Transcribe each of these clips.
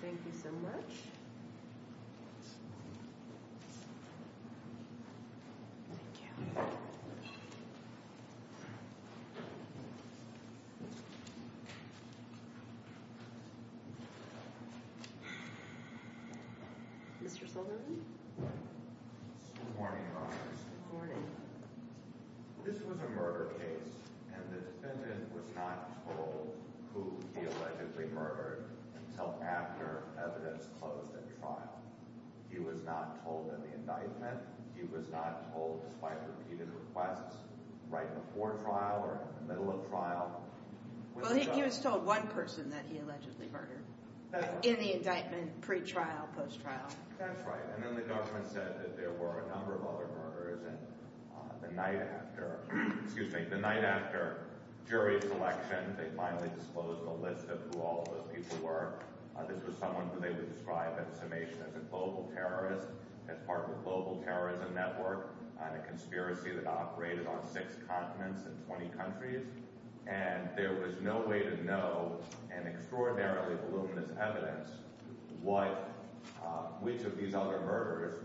Thank you so much. Thank you. Mr. Sullivan? Good morning, Congress. Good morning. This was a murder case, and the defendant was not told who he allegedly murdered until after evidence closed at trial. He was not told in the indictment. He was not told despite repeated requests right before trial or in the middle of trial. Well, he was told one person that he allegedly murdered in the indictment, pre-trial, post-trial. That's right. And then the government said that there were a number of other murders. And the night after, excuse me, the night after jury selection, they finally disclosed a list of who all of those people were. This was someone who they would describe in summation as a global terrorist, as part of a global terrorism network and a conspiracy that operated on six continents and 20 countries. And there was no way to know, and extraordinarily voluminous evidence, what, which of these other murders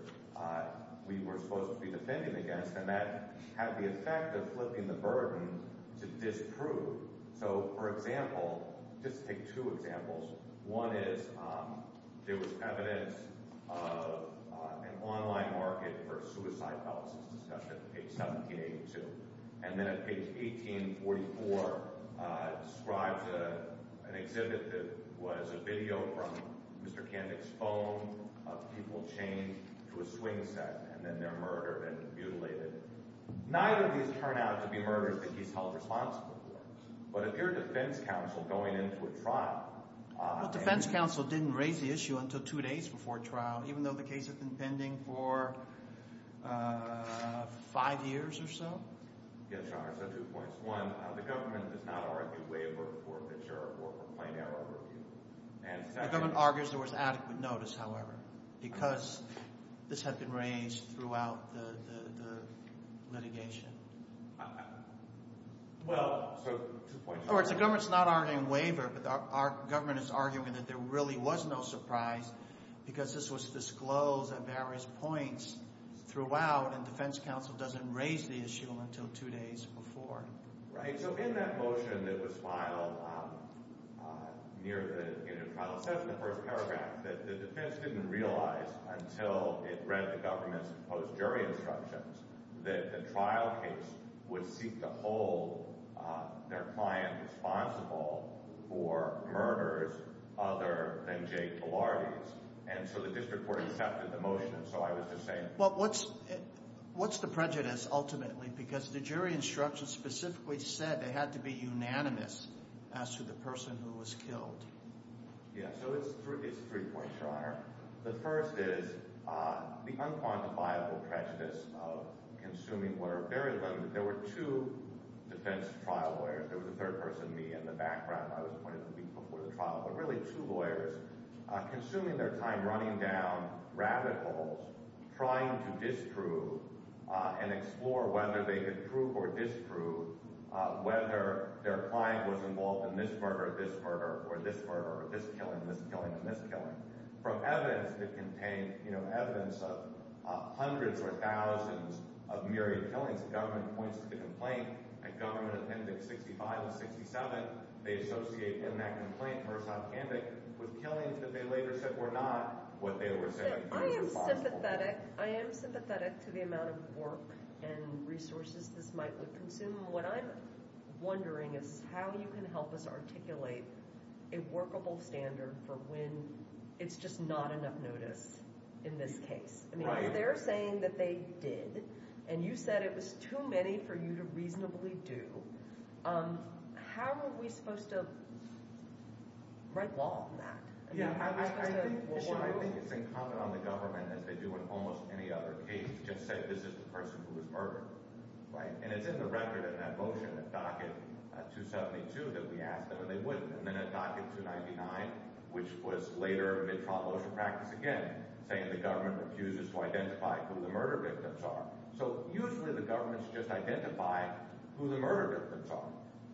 we were supposed to be defending against. And that had the effect of flipping the burden to disprove. So, for example, just take two examples. One is there was evidence of an online market for suicide policies discussion at page 1782. And then at page 1844, it describes an exhibit that was a video from Mr. Kandik's phone of people chained to a swing set, and then they're murdered and mutilated. Neither of these turn out to be murders that he's held responsible for. But if you're defense counsel going into a trial... Well, defense counsel didn't raise the issue until two days before trial, even though the case had been pending for five years or so. Yes, Your Honor. So two points. One, the government does not argue waiver for the juror or for plain error review. The government argues there was adequate notice, however, because this had been raised throughout the litigation. Well, so two points. The government's not arguing waiver, but our government is arguing that there really was no surprise because this was disclosed at various points throughout, and defense counsel doesn't raise the issue until two days before. Right. And so in that motion that was filed near the end of trial, it says in the first paragraph that the defense didn't realize until it read the government's proposed jury instructions that the trial case would seek to hold their client responsible for murders other than Jake Bilardi's. And so the district court accepted the motion, and so I was just saying... Well, what's the prejudice ultimately? Because the jury instructions specifically said it had to be unanimous as to the person who was killed. Yeah, so it's three points, Your Honor. The first is the unquantifiable prejudice of consuming what are very limited... There were two defense trial lawyers. There was a third person, me, in the background. I was appointed a week before the trial, but really two lawyers consuming their time running down rabbit holes trying to disprove and explore whether they could prove or disprove whether their client was involved in this murder, this murder, or this murder, or this killing, this killing, and this killing. From evidence that contained, you know, evidence of hundreds or thousands of myriad killings, the government points to the complaint at Government Appendix 65 and 67. They associate in that complaint, first on candidate, with killings that they later said were not what they were saying could be possible. I am sympathetic. I am sympathetic to the amount of work and resources this might would consume. What I'm wondering is how you can help us articulate a workable standard for when it's just not enough notice in this case. I mean, if they're saying that they did, and you said it was too many for you to reasonably do, how are we supposed to write law on that? Yeah, I think it's incumbent on the government, as they do in almost any other case, to just say this is the person who was murdered. Right. And it's in the record in that motion at Docket 272 that we asked them, and they wouldn't. And then at Docket 299, which was later in mid-trial motion practice again, saying the government refuses to identify who the murder victims are. So usually the government's just identifying who the murder victims are.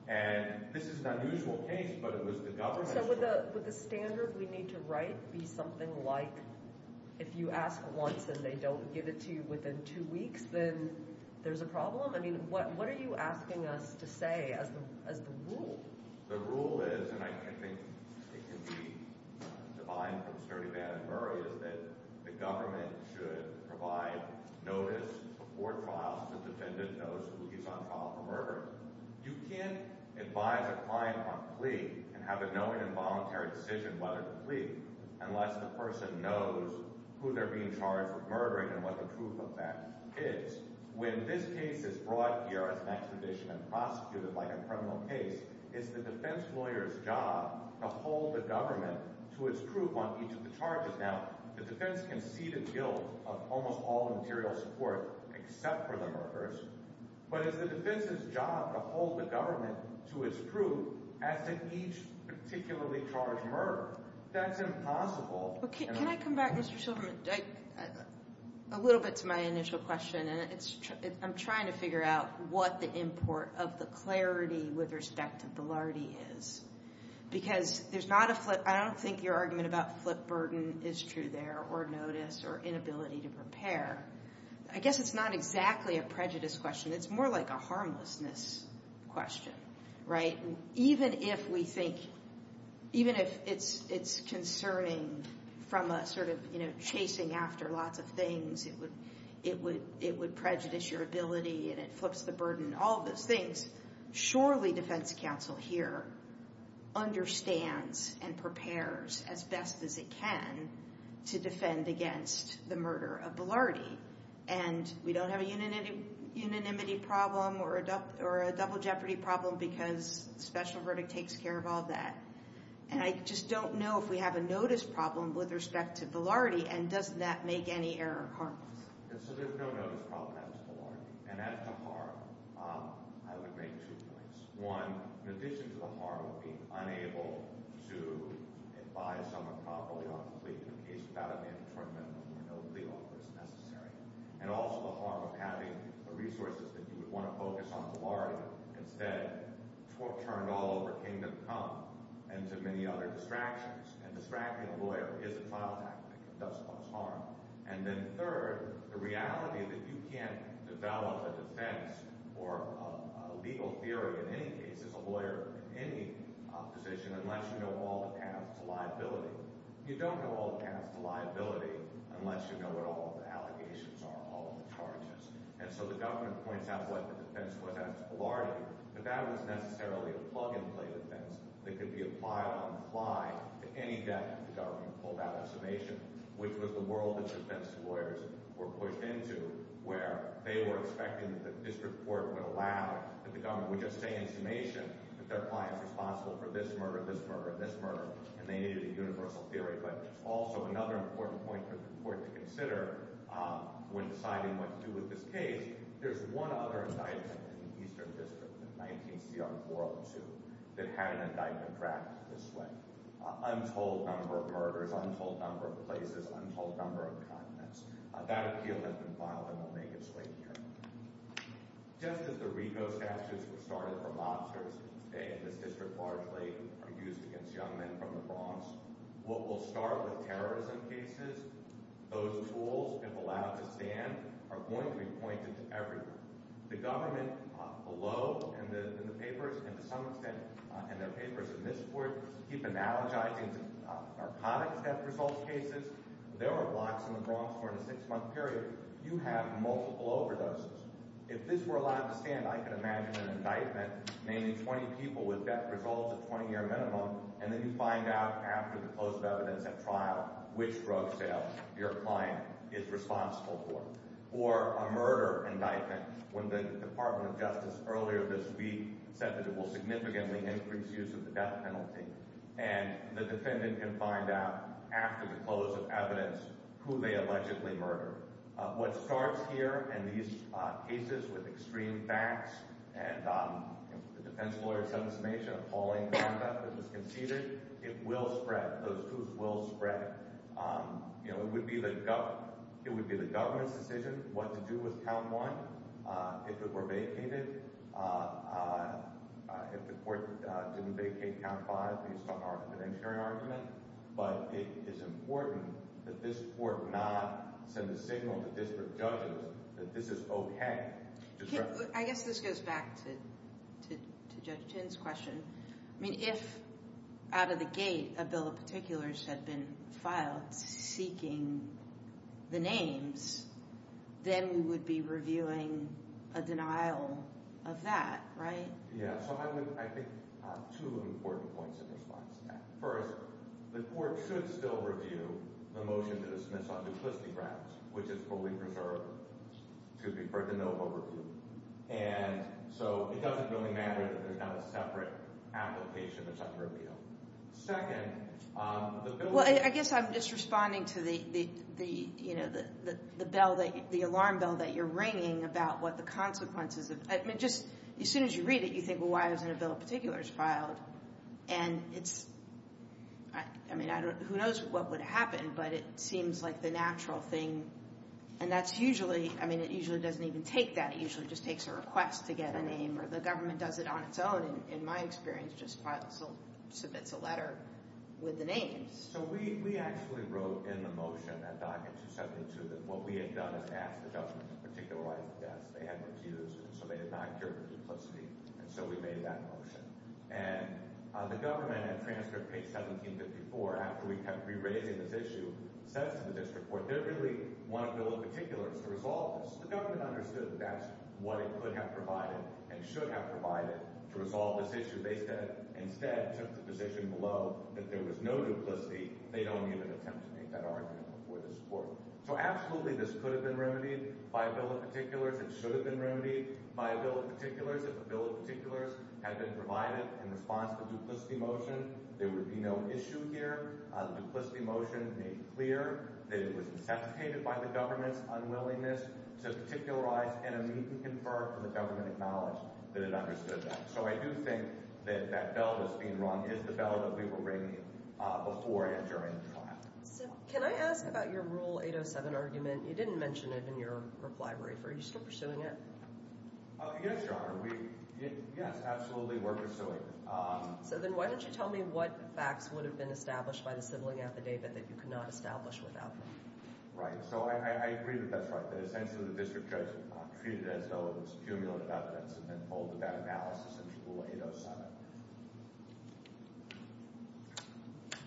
And this is an unusual case, but it was the government. So would the standard we need to write be something like, if you ask once and they don't give it to you within two weeks, then there's a problem? I mean, what are you asking us to say as the rule? The rule is, and I think it can be defined from Sturtevant and Murray, is that the government should provide notice before trial so the defendant knows who he's on trial for murdering. You can't advise a client on a plea and have a knowing and voluntary decision whether to plead unless the person knows who they're being charged with murdering and what the proof of that is. When this case is brought here as an extradition and prosecuted like a criminal case, it's the defense lawyer's job to hold the government to its proof on each of the charges. Now, the defense can see the guilt of almost all material support except for the murderers. But it's the defense's job to hold the government to its proof as to each particularly charged murderer. That's impossible. Can I come back, Mr. Silverman, a little bit to my initial question? I'm trying to figure out what the import of the clarity with respect to Velardi is. Because I don't think your argument about flip burden is true there or notice or inability to prepare. I guess it's not exactly a prejudice question. It's more like a harmlessness question, right? Even if we think, even if it's concerning from a sort of chasing after lots of things, it would prejudice your ability and it flips the burden, all of those things. Surely defense counsel here understands and prepares as best as it can to defend against the murder of Velardi. And we don't have a unanimity problem or a double jeopardy problem because special verdict takes care of all that. And I just don't know if we have a notice problem with respect to Velardi and does that make any error or harm. So there's no notice problem as to Velardi. And as to harm, I would make two points. One, in addition to the harm of being unable to advise someone properly on a plea to a case without an internment where no plea offer is necessary, and also the harm of having the resources that you would want to focus on Velardi instead turned all over kingdom come and to many other distractions. And distracting a lawyer is a trial tactic. It does cause harm. And then third, the reality that you can't develop a defense or a legal theory in any case as a lawyer in any position unless you know all the paths to liability. You don't know all the paths to liability unless you know what all the allegations are, all of the charges. And so the government points out what the defense was against Velardi, but that was necessarily a plug-and-play defense that could be applied on the fly to any death if the world of defense lawyers were pushed into where they were expecting that the district court would allow, that the government would just say in summation that their client is responsible for this murder, this murder, this murder, and they needed a universal theory. But also another important point for the court to consider when deciding what to do with this case, there's one other indictment in the Eastern District in 19 CR 402 that had an indictment drafted this way. Untold number of murders, untold number of places, untold number of continents. That appeal has been filed and will make its way here. Just as the RICO statute was started for mobsters in this day, and this district largely used against young men from the Bronx, what will start with terrorism cases, those tools, if allowed to stand, are going to be pointed to everyone. The government below in the papers, and to some extent in their papers in this court, keep analogizing to narcotics death results cases. There were blocks in the Bronx for a six-month period. You have multiple overdoses. If this were allowed to stand, I can imagine an indictment naming 20 people with death results at 20-year minimum, and then you find out after the closed evidence at trial which drug sale your client is responsible for. Or a murder indictment, when the Department of Justice earlier this week said that it will significantly increase use of the death penalty. And the defendant can find out after the close of evidence who they allegedly murdered. What starts here in these cases with extreme facts, and the defense lawyer said in summation, appalling conduct that was conceded, it will spread. Those tools will spread. It would be the government's decision what to do with count one if it were vacated, if the court didn't vacate count five based on our evidentiary argument. But it is important that this court not send a signal to district judges that this is OK. I guess this goes back to Judge Chin's question. If out of the gate a bill of particulars had been filed seeking the names, then we would be reviewing a denial of that, right? Yeah. So I think two important points in response to that. First, the court should still review the motion to dismiss on duplicity grounds, which is fully preserved to be referred to NOVA review. And so it doesn't really matter that there's not a separate application, a separate bill. Second, the bill... Well, I guess I'm just responding to the, you know, the bell, the alarm bell that you're ringing about what the consequences of... I mean, just as soon as you read it, you think, well, why isn't a bill of particulars filed? And it's... I mean, I don't... Who knows what would happen, but it seems like the natural thing. And that's usually... I mean, it usually doesn't even take that. It usually just takes a request to get a name, or the government does it on its own, and in my experience, just submits a letter with the names. So we actually wrote in the motion at Docket 272 that what we had done is asked the government to particularize the deaths. They hadn't refused, and so they did not care for duplicity, and so we made that motion. And the government, at transcript page 1754, after we kept re-raising this issue, says to the district court, they really want a bill of particulars to resolve this. The government understood that that's what it could have provided and should have provided to resolve this issue. They instead took the position below that there was no duplicity. They don't even attempt to make that argument before this court. So absolutely, this could have been remedied by a bill of particulars. It should have been remedied by a bill of particulars. If a bill of particulars had been provided in response to the duplicity motion, there would be no issue here. The duplicity motion made clear that it was necessitated by the government's unwillingness to particularize, and immediately conferred for the government to acknowledge that it understood that. So I do think that that bell that's being rung is the bell that we were ringing before and during the trial. So can I ask about your Rule 807 argument? You didn't mention it in your reply brief. Are you still pursuing it? Yes, Your Honor. Yes, absolutely, we're pursuing it. So then why don't you tell me what facts would have been established by the sibling affidavit that you could not establish without them? Right. So I agree that that's right, that essentially the district judge treated it as though it was cumulative evidence and then pulled that analysis in Rule 807.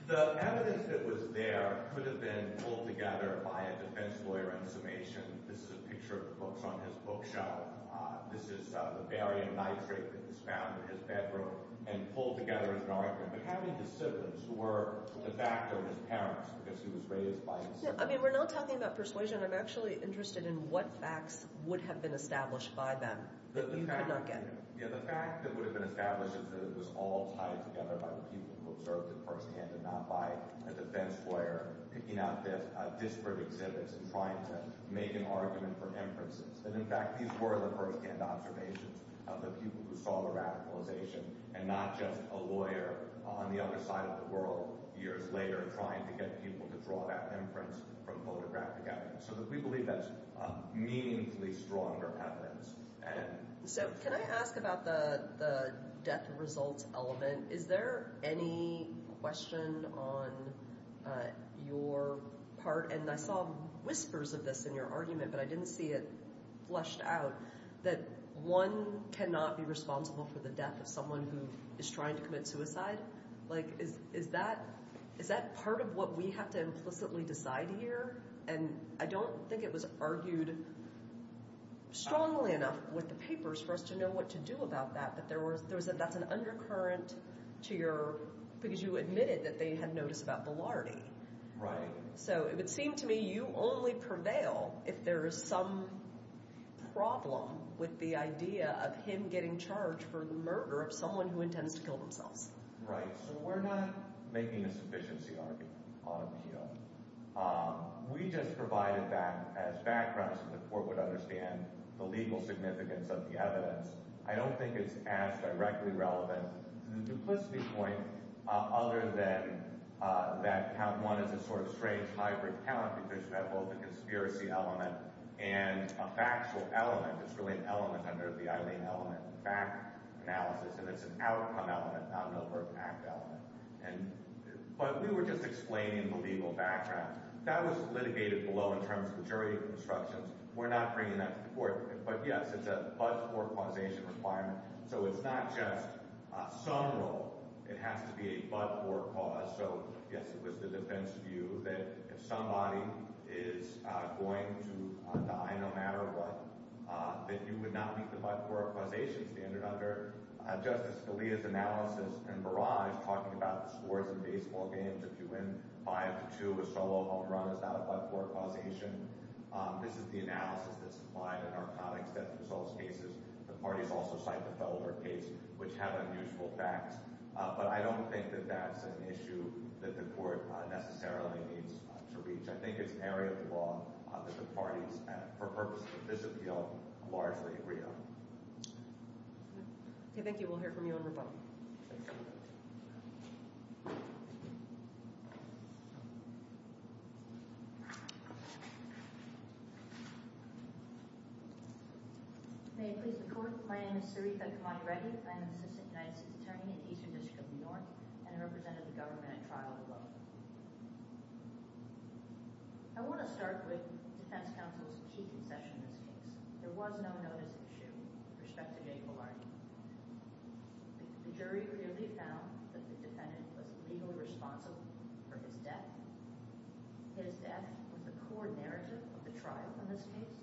The evidence that was there could have been pulled together by a defense lawyer in summation. This is a picture of the books on his bookshelf. This is the barium nitrate that was found in his bedroom and pulled together as an argument. But how many of the siblings were the fact of his parents because he was raised by his siblings? I mean, we're not talking about persuasion. I'm actually interested in what facts would have been established by them that you could not get. Yeah, the fact that would have been established is that it was all tied together by the people who observed it firsthand and not by a defense lawyer picking out disparate exhibits and trying to make an argument for inferences. And in fact, these were the firsthand observations of the people who saw the radicalization and not just a lawyer on the other side of the world years later trying to get people to draw that inference from photographic evidence. So we believe that's meaningfully stronger evidence. So can I ask about the death results element? Is there any question on your part? And I saw whispers of this in your argument, but I didn't see it fleshed out that one cannot be responsible for the death of someone who is trying to commit suicide. Like, is that part of what we have to implicitly decide here? And I don't think it was argued strongly enough with the papers for us to know what to do about that. But that's an undercurrent because you admitted that they had noticed about Velarde. Right. So it would seem to me you only prevail if there is some problem with the idea of him getting charged for the murder of someone who intends to kill themselves. Right. So we're not making a sufficiency argument on appeal. We just provided that as background so the court would understand the legal significance of the evidence. I don't think it's as directly relevant to the duplicity point other than that count is a sort of strange hybrid count because you have both a conspiracy element and a factual element. It's really an element under the Eileen element, fact analysis. And it's an outcome element, not an overt act element. But we were just explaining the legal background. That was litigated below in terms of the jury instructions. We're not bringing that to the court. But yes, it's a but-or causation requirement. So it's not just a sum rule. It has to be a but-or cause. So yes, it was the defense view that if somebody is going to die, no matter what, that you would not meet the but-or causation standard under Justice Scalia's analysis in Barrage talking about the scores in baseball games. If you win five to two, a solo home run is not a but-or causation. This is the analysis that's applied in our common-extension assault cases. The parties also cite the Felder case, which have unusual facts. But I don't think that that's an issue that the court necessarily needs to reach. I think it's an area of the law that the parties, for purposes of this appeal, largely agree on. Okay, thank you. We'll hear from you on rebuttal. May I please report? My name is Sarita Kamari Reddy. I am the Assistant United States Attorney in the Eastern District of New York, and I represented the government at trial today. I want to start with the defense counsel's key concession in this case. There was no notice of issue with respect to J. Bullard. The jury clearly found that the defendant was legally responsible for his death. His death was the core narrative of the trial in this case,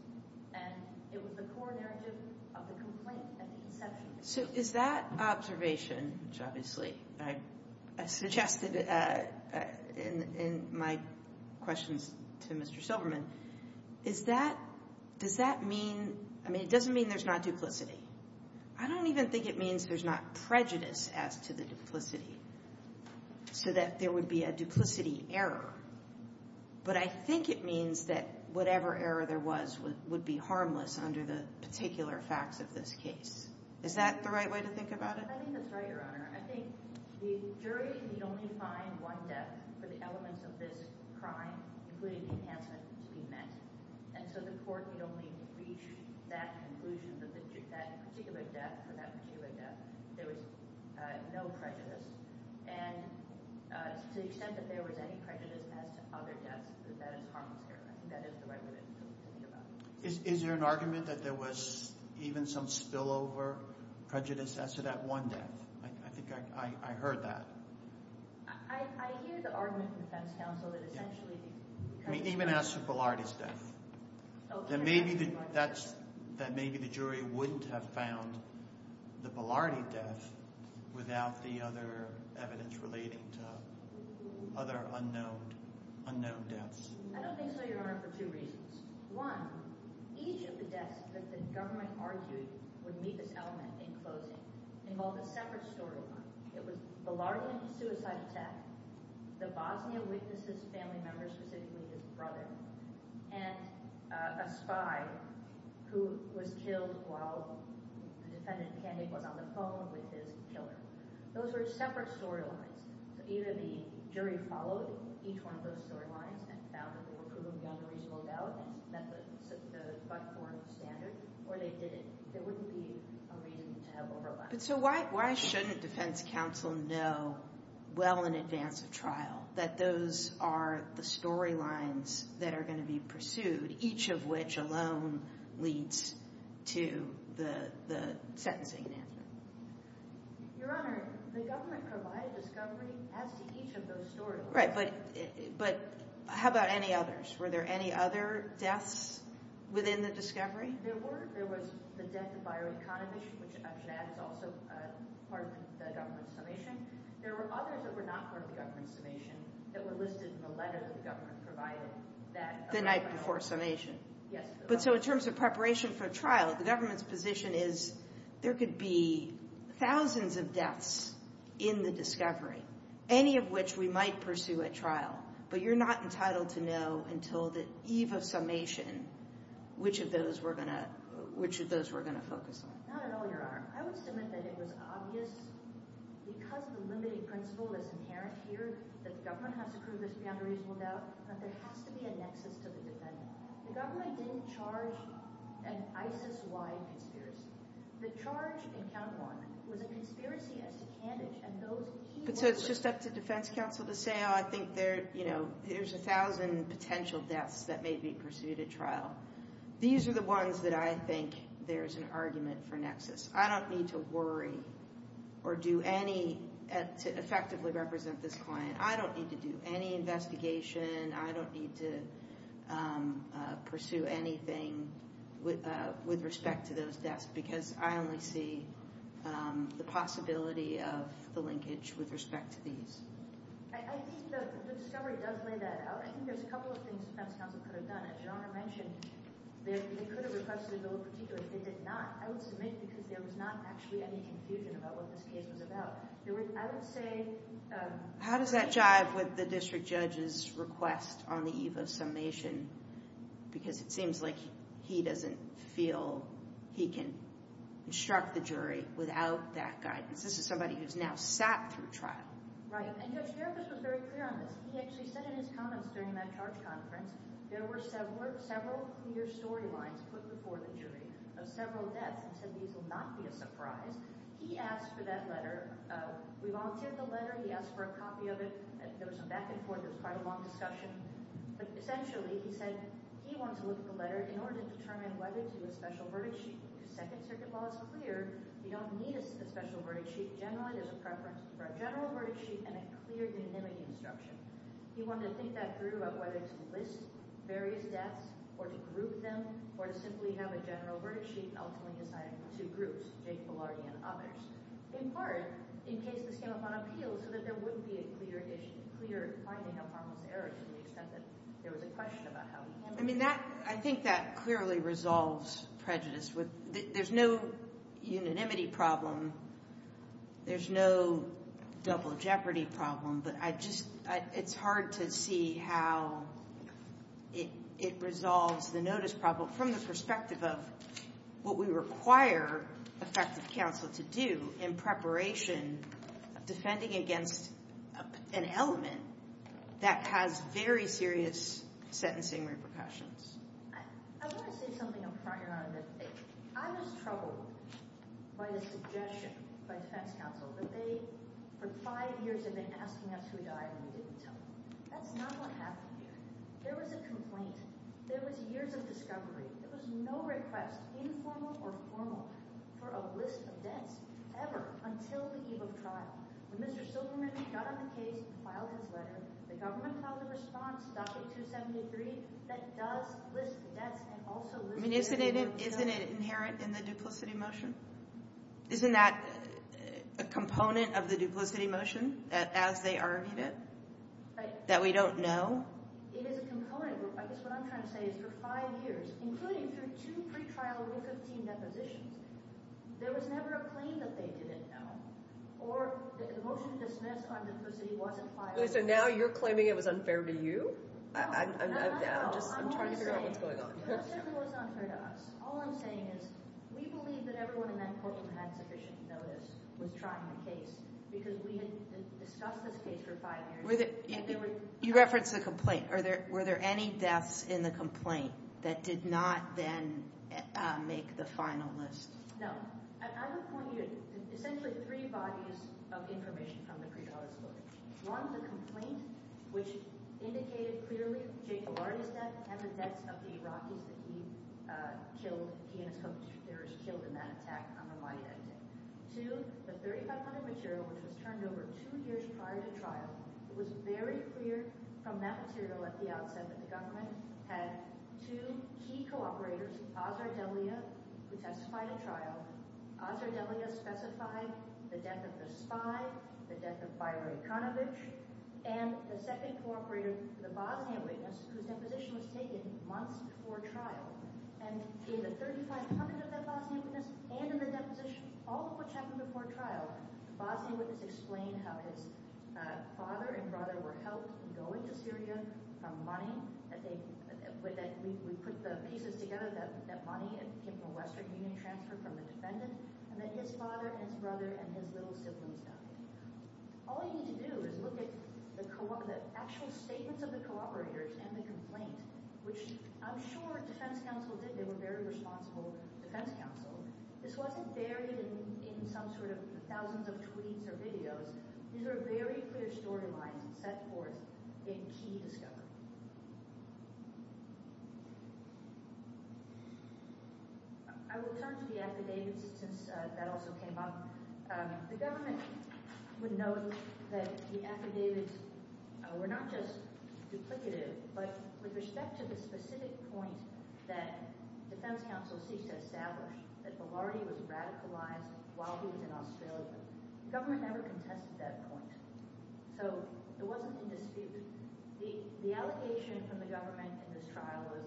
and it was the core narrative of the complaint at the inception. So is that observation, which obviously I suggested in my questions to Mr. Silverman, does that mean, I mean, it doesn't mean there's not duplicity. I don't even think it means there's not prejudice as to the duplicity, so that there would be a duplicity error. But I think it means that whatever error there was would be harmless under the particular facts of this case. Is that the right way to think about it? I think that's right, Your Honor. I think the jury need only find one death for the elements of this crime, including the enhancement, to be met. And so the court need only reach that conclusion that that particular death, for that particular death, there was no prejudice. And to the extent that there was any prejudice as to other deaths, that is harmless error. I think that is the right way to think about it. Is there an argument that there was even some spillover prejudice as to that one death? I think I heard that. I hear the argument from the defense counsel that essentially because of spillover. Even as to Polardi's death. That maybe the jury wouldn't have found the Polardi death without the other evidence relating to other unknown deaths. I don't think so, Your Honor, for two reasons. One, each of the deaths that the government argued would meet this element in closing involved a separate storyline. It was Polardi in a suicide attack. The Bosnia witnesses family members, specifically his brother. And a spy who was killed while the defendant Kandig was on the phone with his killer. Those were separate storylines. So either the jury followed each one of those storylines and found that they were proven beyond a reasonable doubt and met the buckhorn standard, or they didn't. There wouldn't be a reason to have overlap. So why shouldn't defense counsel know well in advance of trial that those are the storylines that are going to be pursued, each of which alone leads to the sentencing announcement? Your Honor, the government provided discovery as to each of those storylines. Right, but how about any others? Were there any other deaths within the discovery? There were. There was the death of Bayreuk Kandig, which I should add is also part of the government's summation. There were others that were not part of the government's summation that were listed in the letter that the government provided. The night before summation. Yes. But so in terms of preparation for trial, the government's position is there could be thousands of deaths in the discovery, any of which we might pursue at trial, but you're not entitled to know until the eve of summation which of those we're going to focus on. Not at all, Your Honor. I would submit that it was obvious because of the limiting principle that's inherent here that the government has to prove this beyond a reasonable doubt that there has to be a nexus to the defendant. The government didn't charge an ISIS-wide conspiracy. The charge in count one was a conspiracy against Kandig and those he worked with. But so it's just up to defense counsel to say, oh, I think there's a thousand potential deaths that may be pursued at trial. These are the ones that I think there's an argument for nexus. I don't need to worry or do any to effectively represent this client. I don't need to do any investigation. I don't need to pursue anything with respect to those deaths because I only see the possibility of the linkage with respect to these. I think the discovery does lay that out. I think there's a couple of things defense counsel could have done. As Your Honor mentioned, they could have requested a bill of particulars. They did not. I would submit because there was not actually any confusion about what this case was about. How does that jive with the district judge's request on the eve of summation? Because it seems like he doesn't feel he can instruct the jury without that guidance. This is somebody who's now sat through trial. Right, and Judge Gerges was very clear on this. He actually said in his comments during that charge conference there were several clear storylines put before the jury of several deaths and said these will not be a surprise. He asked for that letter. We volunteered the letter. He asked for a copy of it. There was some back and forth. It was quite a long discussion. But essentially, he said he wanted to look at the letter in order to determine whether to do a special verdict sheet. The Second Circuit law is clear. We don't need a special verdict sheet. Generally, there's a preference for a general verdict sheet and a clear unanimity instruction. He wanted to think that through about whether to list various deaths or to group them or to simply have a general verdict sheet and ultimately assign it to two groups, Jake Belardi and others. In part, in case this came upon appeal so that there wouldn't be a clear finding of harmless errors to the extent that there was a question about how he handled it. I think that clearly resolves prejudice. There's no unanimity problem. There's no double jeopardy problem. But it's hard to see how it resolves the notice problem from the perspective of what we require effective counsel to do in preparation of defending against an element that has very serious sentencing repercussions. I want to say something up front, Your Honor. I was troubled by the suggestion by defense counsel that they, for five years, have been asking us who died and we didn't tell them. That's not what happened here. There was a complaint. There was years of discovery. There was no request, informal or formal, for a list of deaths ever until the eve of trial. When Mr. Silverman got on the case and filed his letter, the government filed a response, docket 273, that does list the deaths and also lists the evidence. Isn't it inherent in the duplicity motion? Isn't that a component of the duplicity motion as they argued it that we don't know? It is a component. I guess what I'm trying to say is for five years, including through two pretrial week of team depositions, there was never a claim that they didn't know or that the motion to dismiss on duplicity wasn't filed. So now you're claiming it was unfair to you? No, not at all. I'm just trying to figure out what's going on. It certainly wasn't unfair to us. All I'm saying is we believe that everyone in that courtroom had sufficient notice with trying the case because we had discussed this case for five years. You referenced the complaint. Were there any deaths in the complaint that did not then make the final list? No. I would point you to essentially three bodies of information from the pretrial disclosure. One, the complaint, which indicated clearly Jacob Lardy's death and the deaths of the Iraqis that he killed, he and his co-conspirators killed in that attack on Ramadi that day. Two, the 3500 material, which was turned over two years prior to trial, it was very clear from that material at the outset that the government had two key co-operators, Azar Delia, who testified at trial. Azar Delia specified the death of the spy, the death of Bayrat Kanovich, and the second co-operator, the Bosnian witness, whose deposition was taken months before trial. And in the 3500 of that Bosnian witness and in the depositions, all of which happened before trial, the Bosnian witness explained how his father and brother were helped in going to Syria from money, that we put the pieces together, that money came from a Western Union transfer from a defendant, and that his father and his brother and his little siblings died. All you need to do is look at the actual statements of the co-operators and the complaint, which I'm sure defense counsel did. They were very responsible defense counsel. This wasn't buried in some sort of thousands of tweets or videos. These were very clear storylines set forth in key discovery. I will turn to the affidavits since that also came up. The government would note that the affidavits were not just duplicative, but with respect to the specific point that defense counsel ceased to establish, that Bilardi was radicalized while he was in Australia, the government never contested that point. So it wasn't in dispute. The allegation from the government in this trial was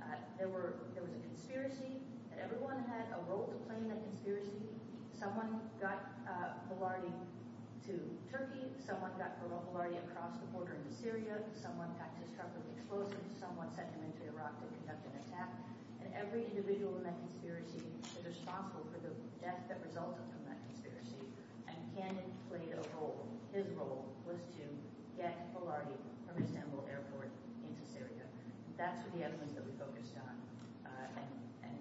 that there was a conspiracy, that everyone had a role to play in that conspiracy. Someone got Bilardi to Turkey. Someone got Bilardi across the border into Syria. Someone got his truck with explosives. Someone sent him into Iraq to conduct an attack. And every individual in that conspiracy is responsible for the death that resulted from that conspiracy. And Cannon played a role. His role was to get Bilardi from Istanbul Airport into Syria. That's the evidence that we focused on. And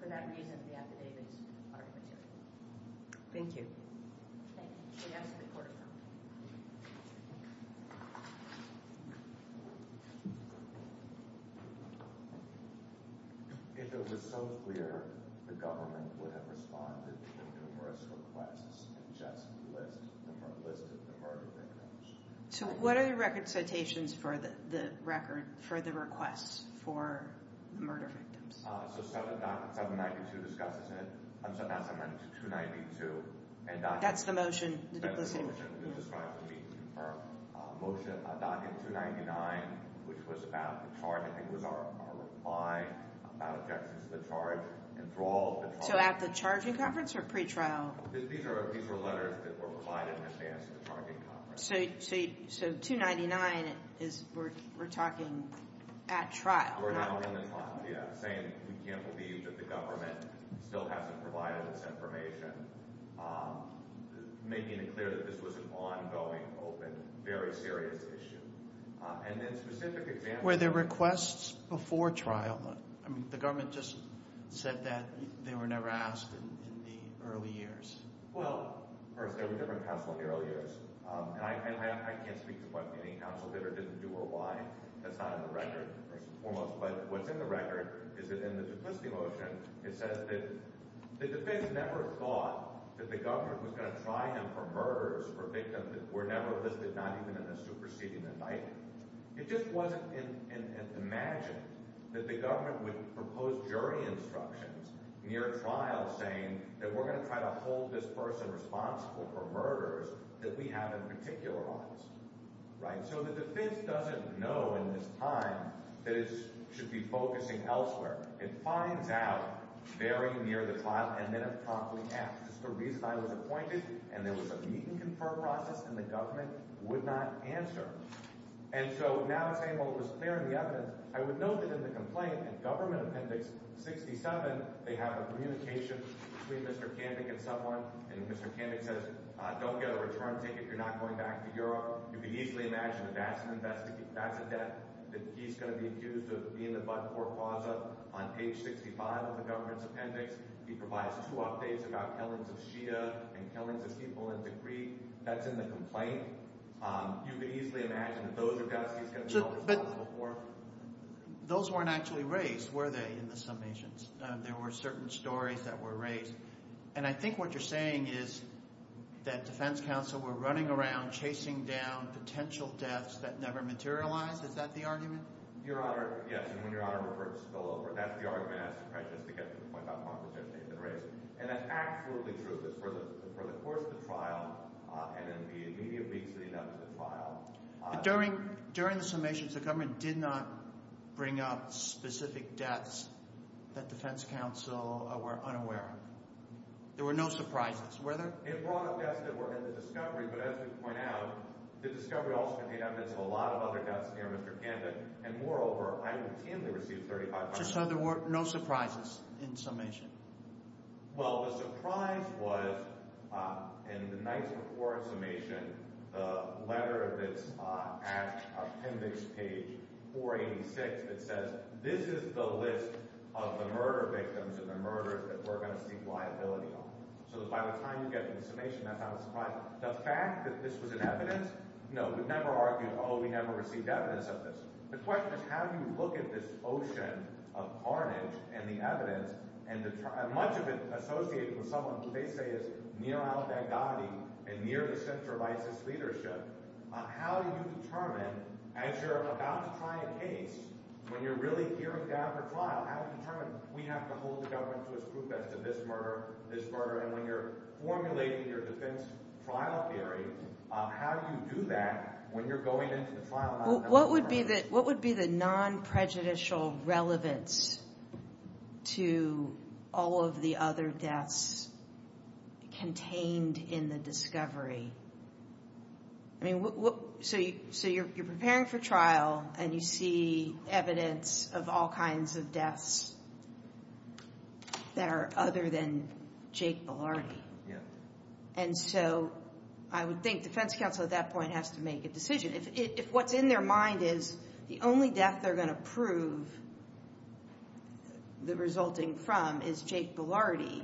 for that reason, the affidavits are immaterial. Thank you. Thank you. If it was so clear, the government would have responded to the numerous requests and just listed the murder victims. So what are the record citations for the requests for the murder victims? So 792 discusses it. I'm sorry, not 792, 292. That's the motion. That's the motion that describes the meeting. Our motion, document 299, which was about the charge. I think it was our reply about objections to the charge. So at the charging conference or pre-trial? These were letters that were provided in advance of the charging conference. So 299, we're talking at trial. Saying we can't believe that the government still hasn't provided this information, making it clear that this was an ongoing, open, very serious issue. And then specific examples. Were there requests before trial? I mean, the government just said that they were never asked in the early years. Well, first, there were different counsel in the early years. And I can't speak to what any counsel did or didn't do or why. That's not in the record, first and foremost. But what's in the record is that in the duplicity motion, it says that the defense never thought that the government was going to try him for murders for victims that were never listed, not even in the superseding indictment. It just wasn't imagined that the government would propose jury instructions near trial saying that we're going to try to hold this person responsible for murders that we have in particular odds. Right? So the defense doesn't know in this time that it should be focusing elsewhere. It finds out very near the trial, and then it promptly acts. That's the reason I was appointed. And there was a meet-and-confirm process, and the government would not answer. And so now it's saying, well, it was clear in the evidence. I would note that in the complaint, in Government Appendix 67, they have a communication between Mr. Kandik and someone, and Mr. Kandik says, don't get a return ticket if you're not going back to Europe. You can easily imagine that that's an investigation. That's a debt that he's going to be accused of being the but-for causa on page 65 of the government's appendix. He provides two updates about killings of Shia and killings of people in Tikrit. That's in the complaint. You can easily imagine that those are debts he's going to be held responsible for. Those weren't actually raised, were they, in the summations? There were certain stories that were raised. And I think what you're saying is that defense counsel were running around chasing down potential deaths that never materialized. Is that the argument? Your Honor, yes. And when Your Honor referred to spillover, that's the argument I just tried to get to the point about conversations that were raised. And that's absolutely true. But for the course of the trial and in the immediate weeks leading up to the trial— During the summations, the government did not bring up specific deaths that defense counsel were unaware of. There were no surprises. Were there? It brought up deaths that were in the discovery, but as we point out, the discovery also contained evidence of a lot of other deaths near Mr. Candid. And moreover, I routinely received 35,000— So there were no surprises in the summation? Well, the surprise was in the nights before the summation, the letter that's at appendix page 486 that says, this is the list of the murder victims and the murders that we're going to seek liability on. So by the time you get to the summation, that's not a surprise. The fact that this was in evidence, no, we never argued, oh, we never received evidence of this. The question is how do you look at this ocean of carnage and the evidence and much of it associated with someone who they say is near al-Baghdadi and near the center of ISIS leadership? How do you determine, as you're about to try a case, when you're really hearing down for trial, how do you determine we have to hold the government to its truth as to this murder, this murder? And when you're formulating your defense trial theory, how do you do that when you're going into the trial? What would be the non-prejudicial relevance to all of the other deaths contained in the discovery? So you're preparing for trial, and you see evidence of all kinds of deaths that are other than Jake Bilardi. And so I would think defense counsel at that point has to make a decision. If what's in their mind is the only death they're going to prove the resulting from is Jake Bilardi,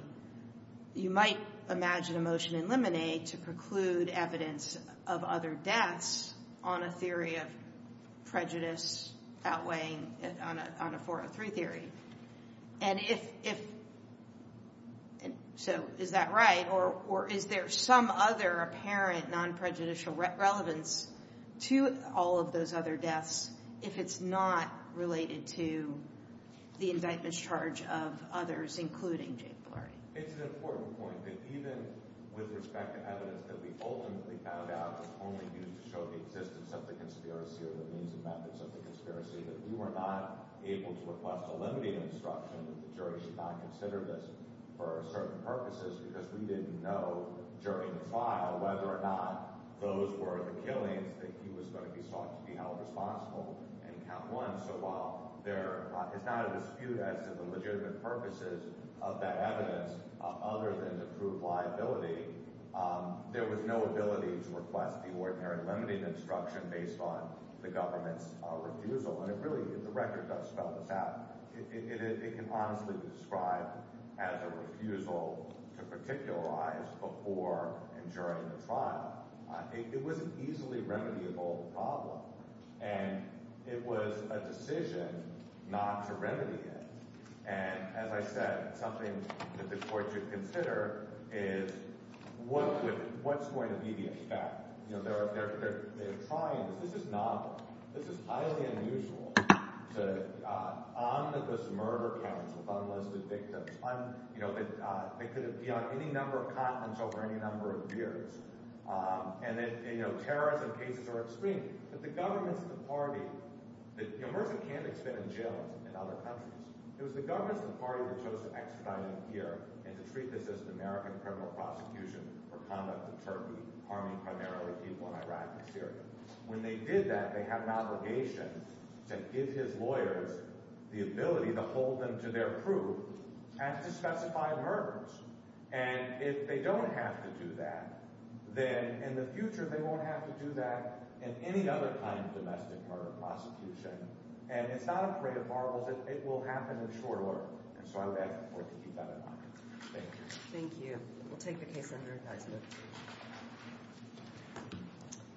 you might imagine a motion in Lemonade to preclude evidence of other deaths on a theory of prejudice outweighing on a 403 theory. And so is that right, or is there some other apparent non-prejudicial relevance to all of those other deaths if it's not related to the indictment's charge of others, including Jake Bilardi? It's an important point, that even with respect to evidence that we ultimately found out was only used to show the existence of the conspiracy or the means and methods of the conspiracy, that we were not able to request a limiting instruction that the jury should not consider this for certain purposes because we didn't know during the trial whether or not those were the killings that he was going to be sought to be held responsible in count one. So while there is not a dispute as to the legitimate purposes of that evidence other than to prove liability, there was no ability to request the ordinary limiting instruction based on the government's refusal. And really, the record does spell this out. It can honestly be described as a refusal to particularize before and during the trial. It was an easily remediable problem, and it was a decision not to remedy it. And as I said, something that the court should consider is what's going to be the effect. They're trying this. This is highly unusual to omnibus murder counts of unlisted victims. They could be on any number of continents over any number of years. And terrorism cases are extreme. But the governments of the party – you know, Mursi Kandak's been in jail in other countries. It was the governments of the party that chose to extradite him here and to treat this as an American criminal prosecution for conduct of terrorism, harming primarily people in Iraq and Syria. When they did that, they had an obligation to give his lawyers the ability to hold them to their proof and to specify murders. And if they don't have to do that, then in the future they won't have to do that in any other kind of domestic murder prosecution. And it's not a parade of marbles. It will happen in short order. And so I would ask the court to keep that in mind. Thank you. Thank you. We'll take the case under advisement.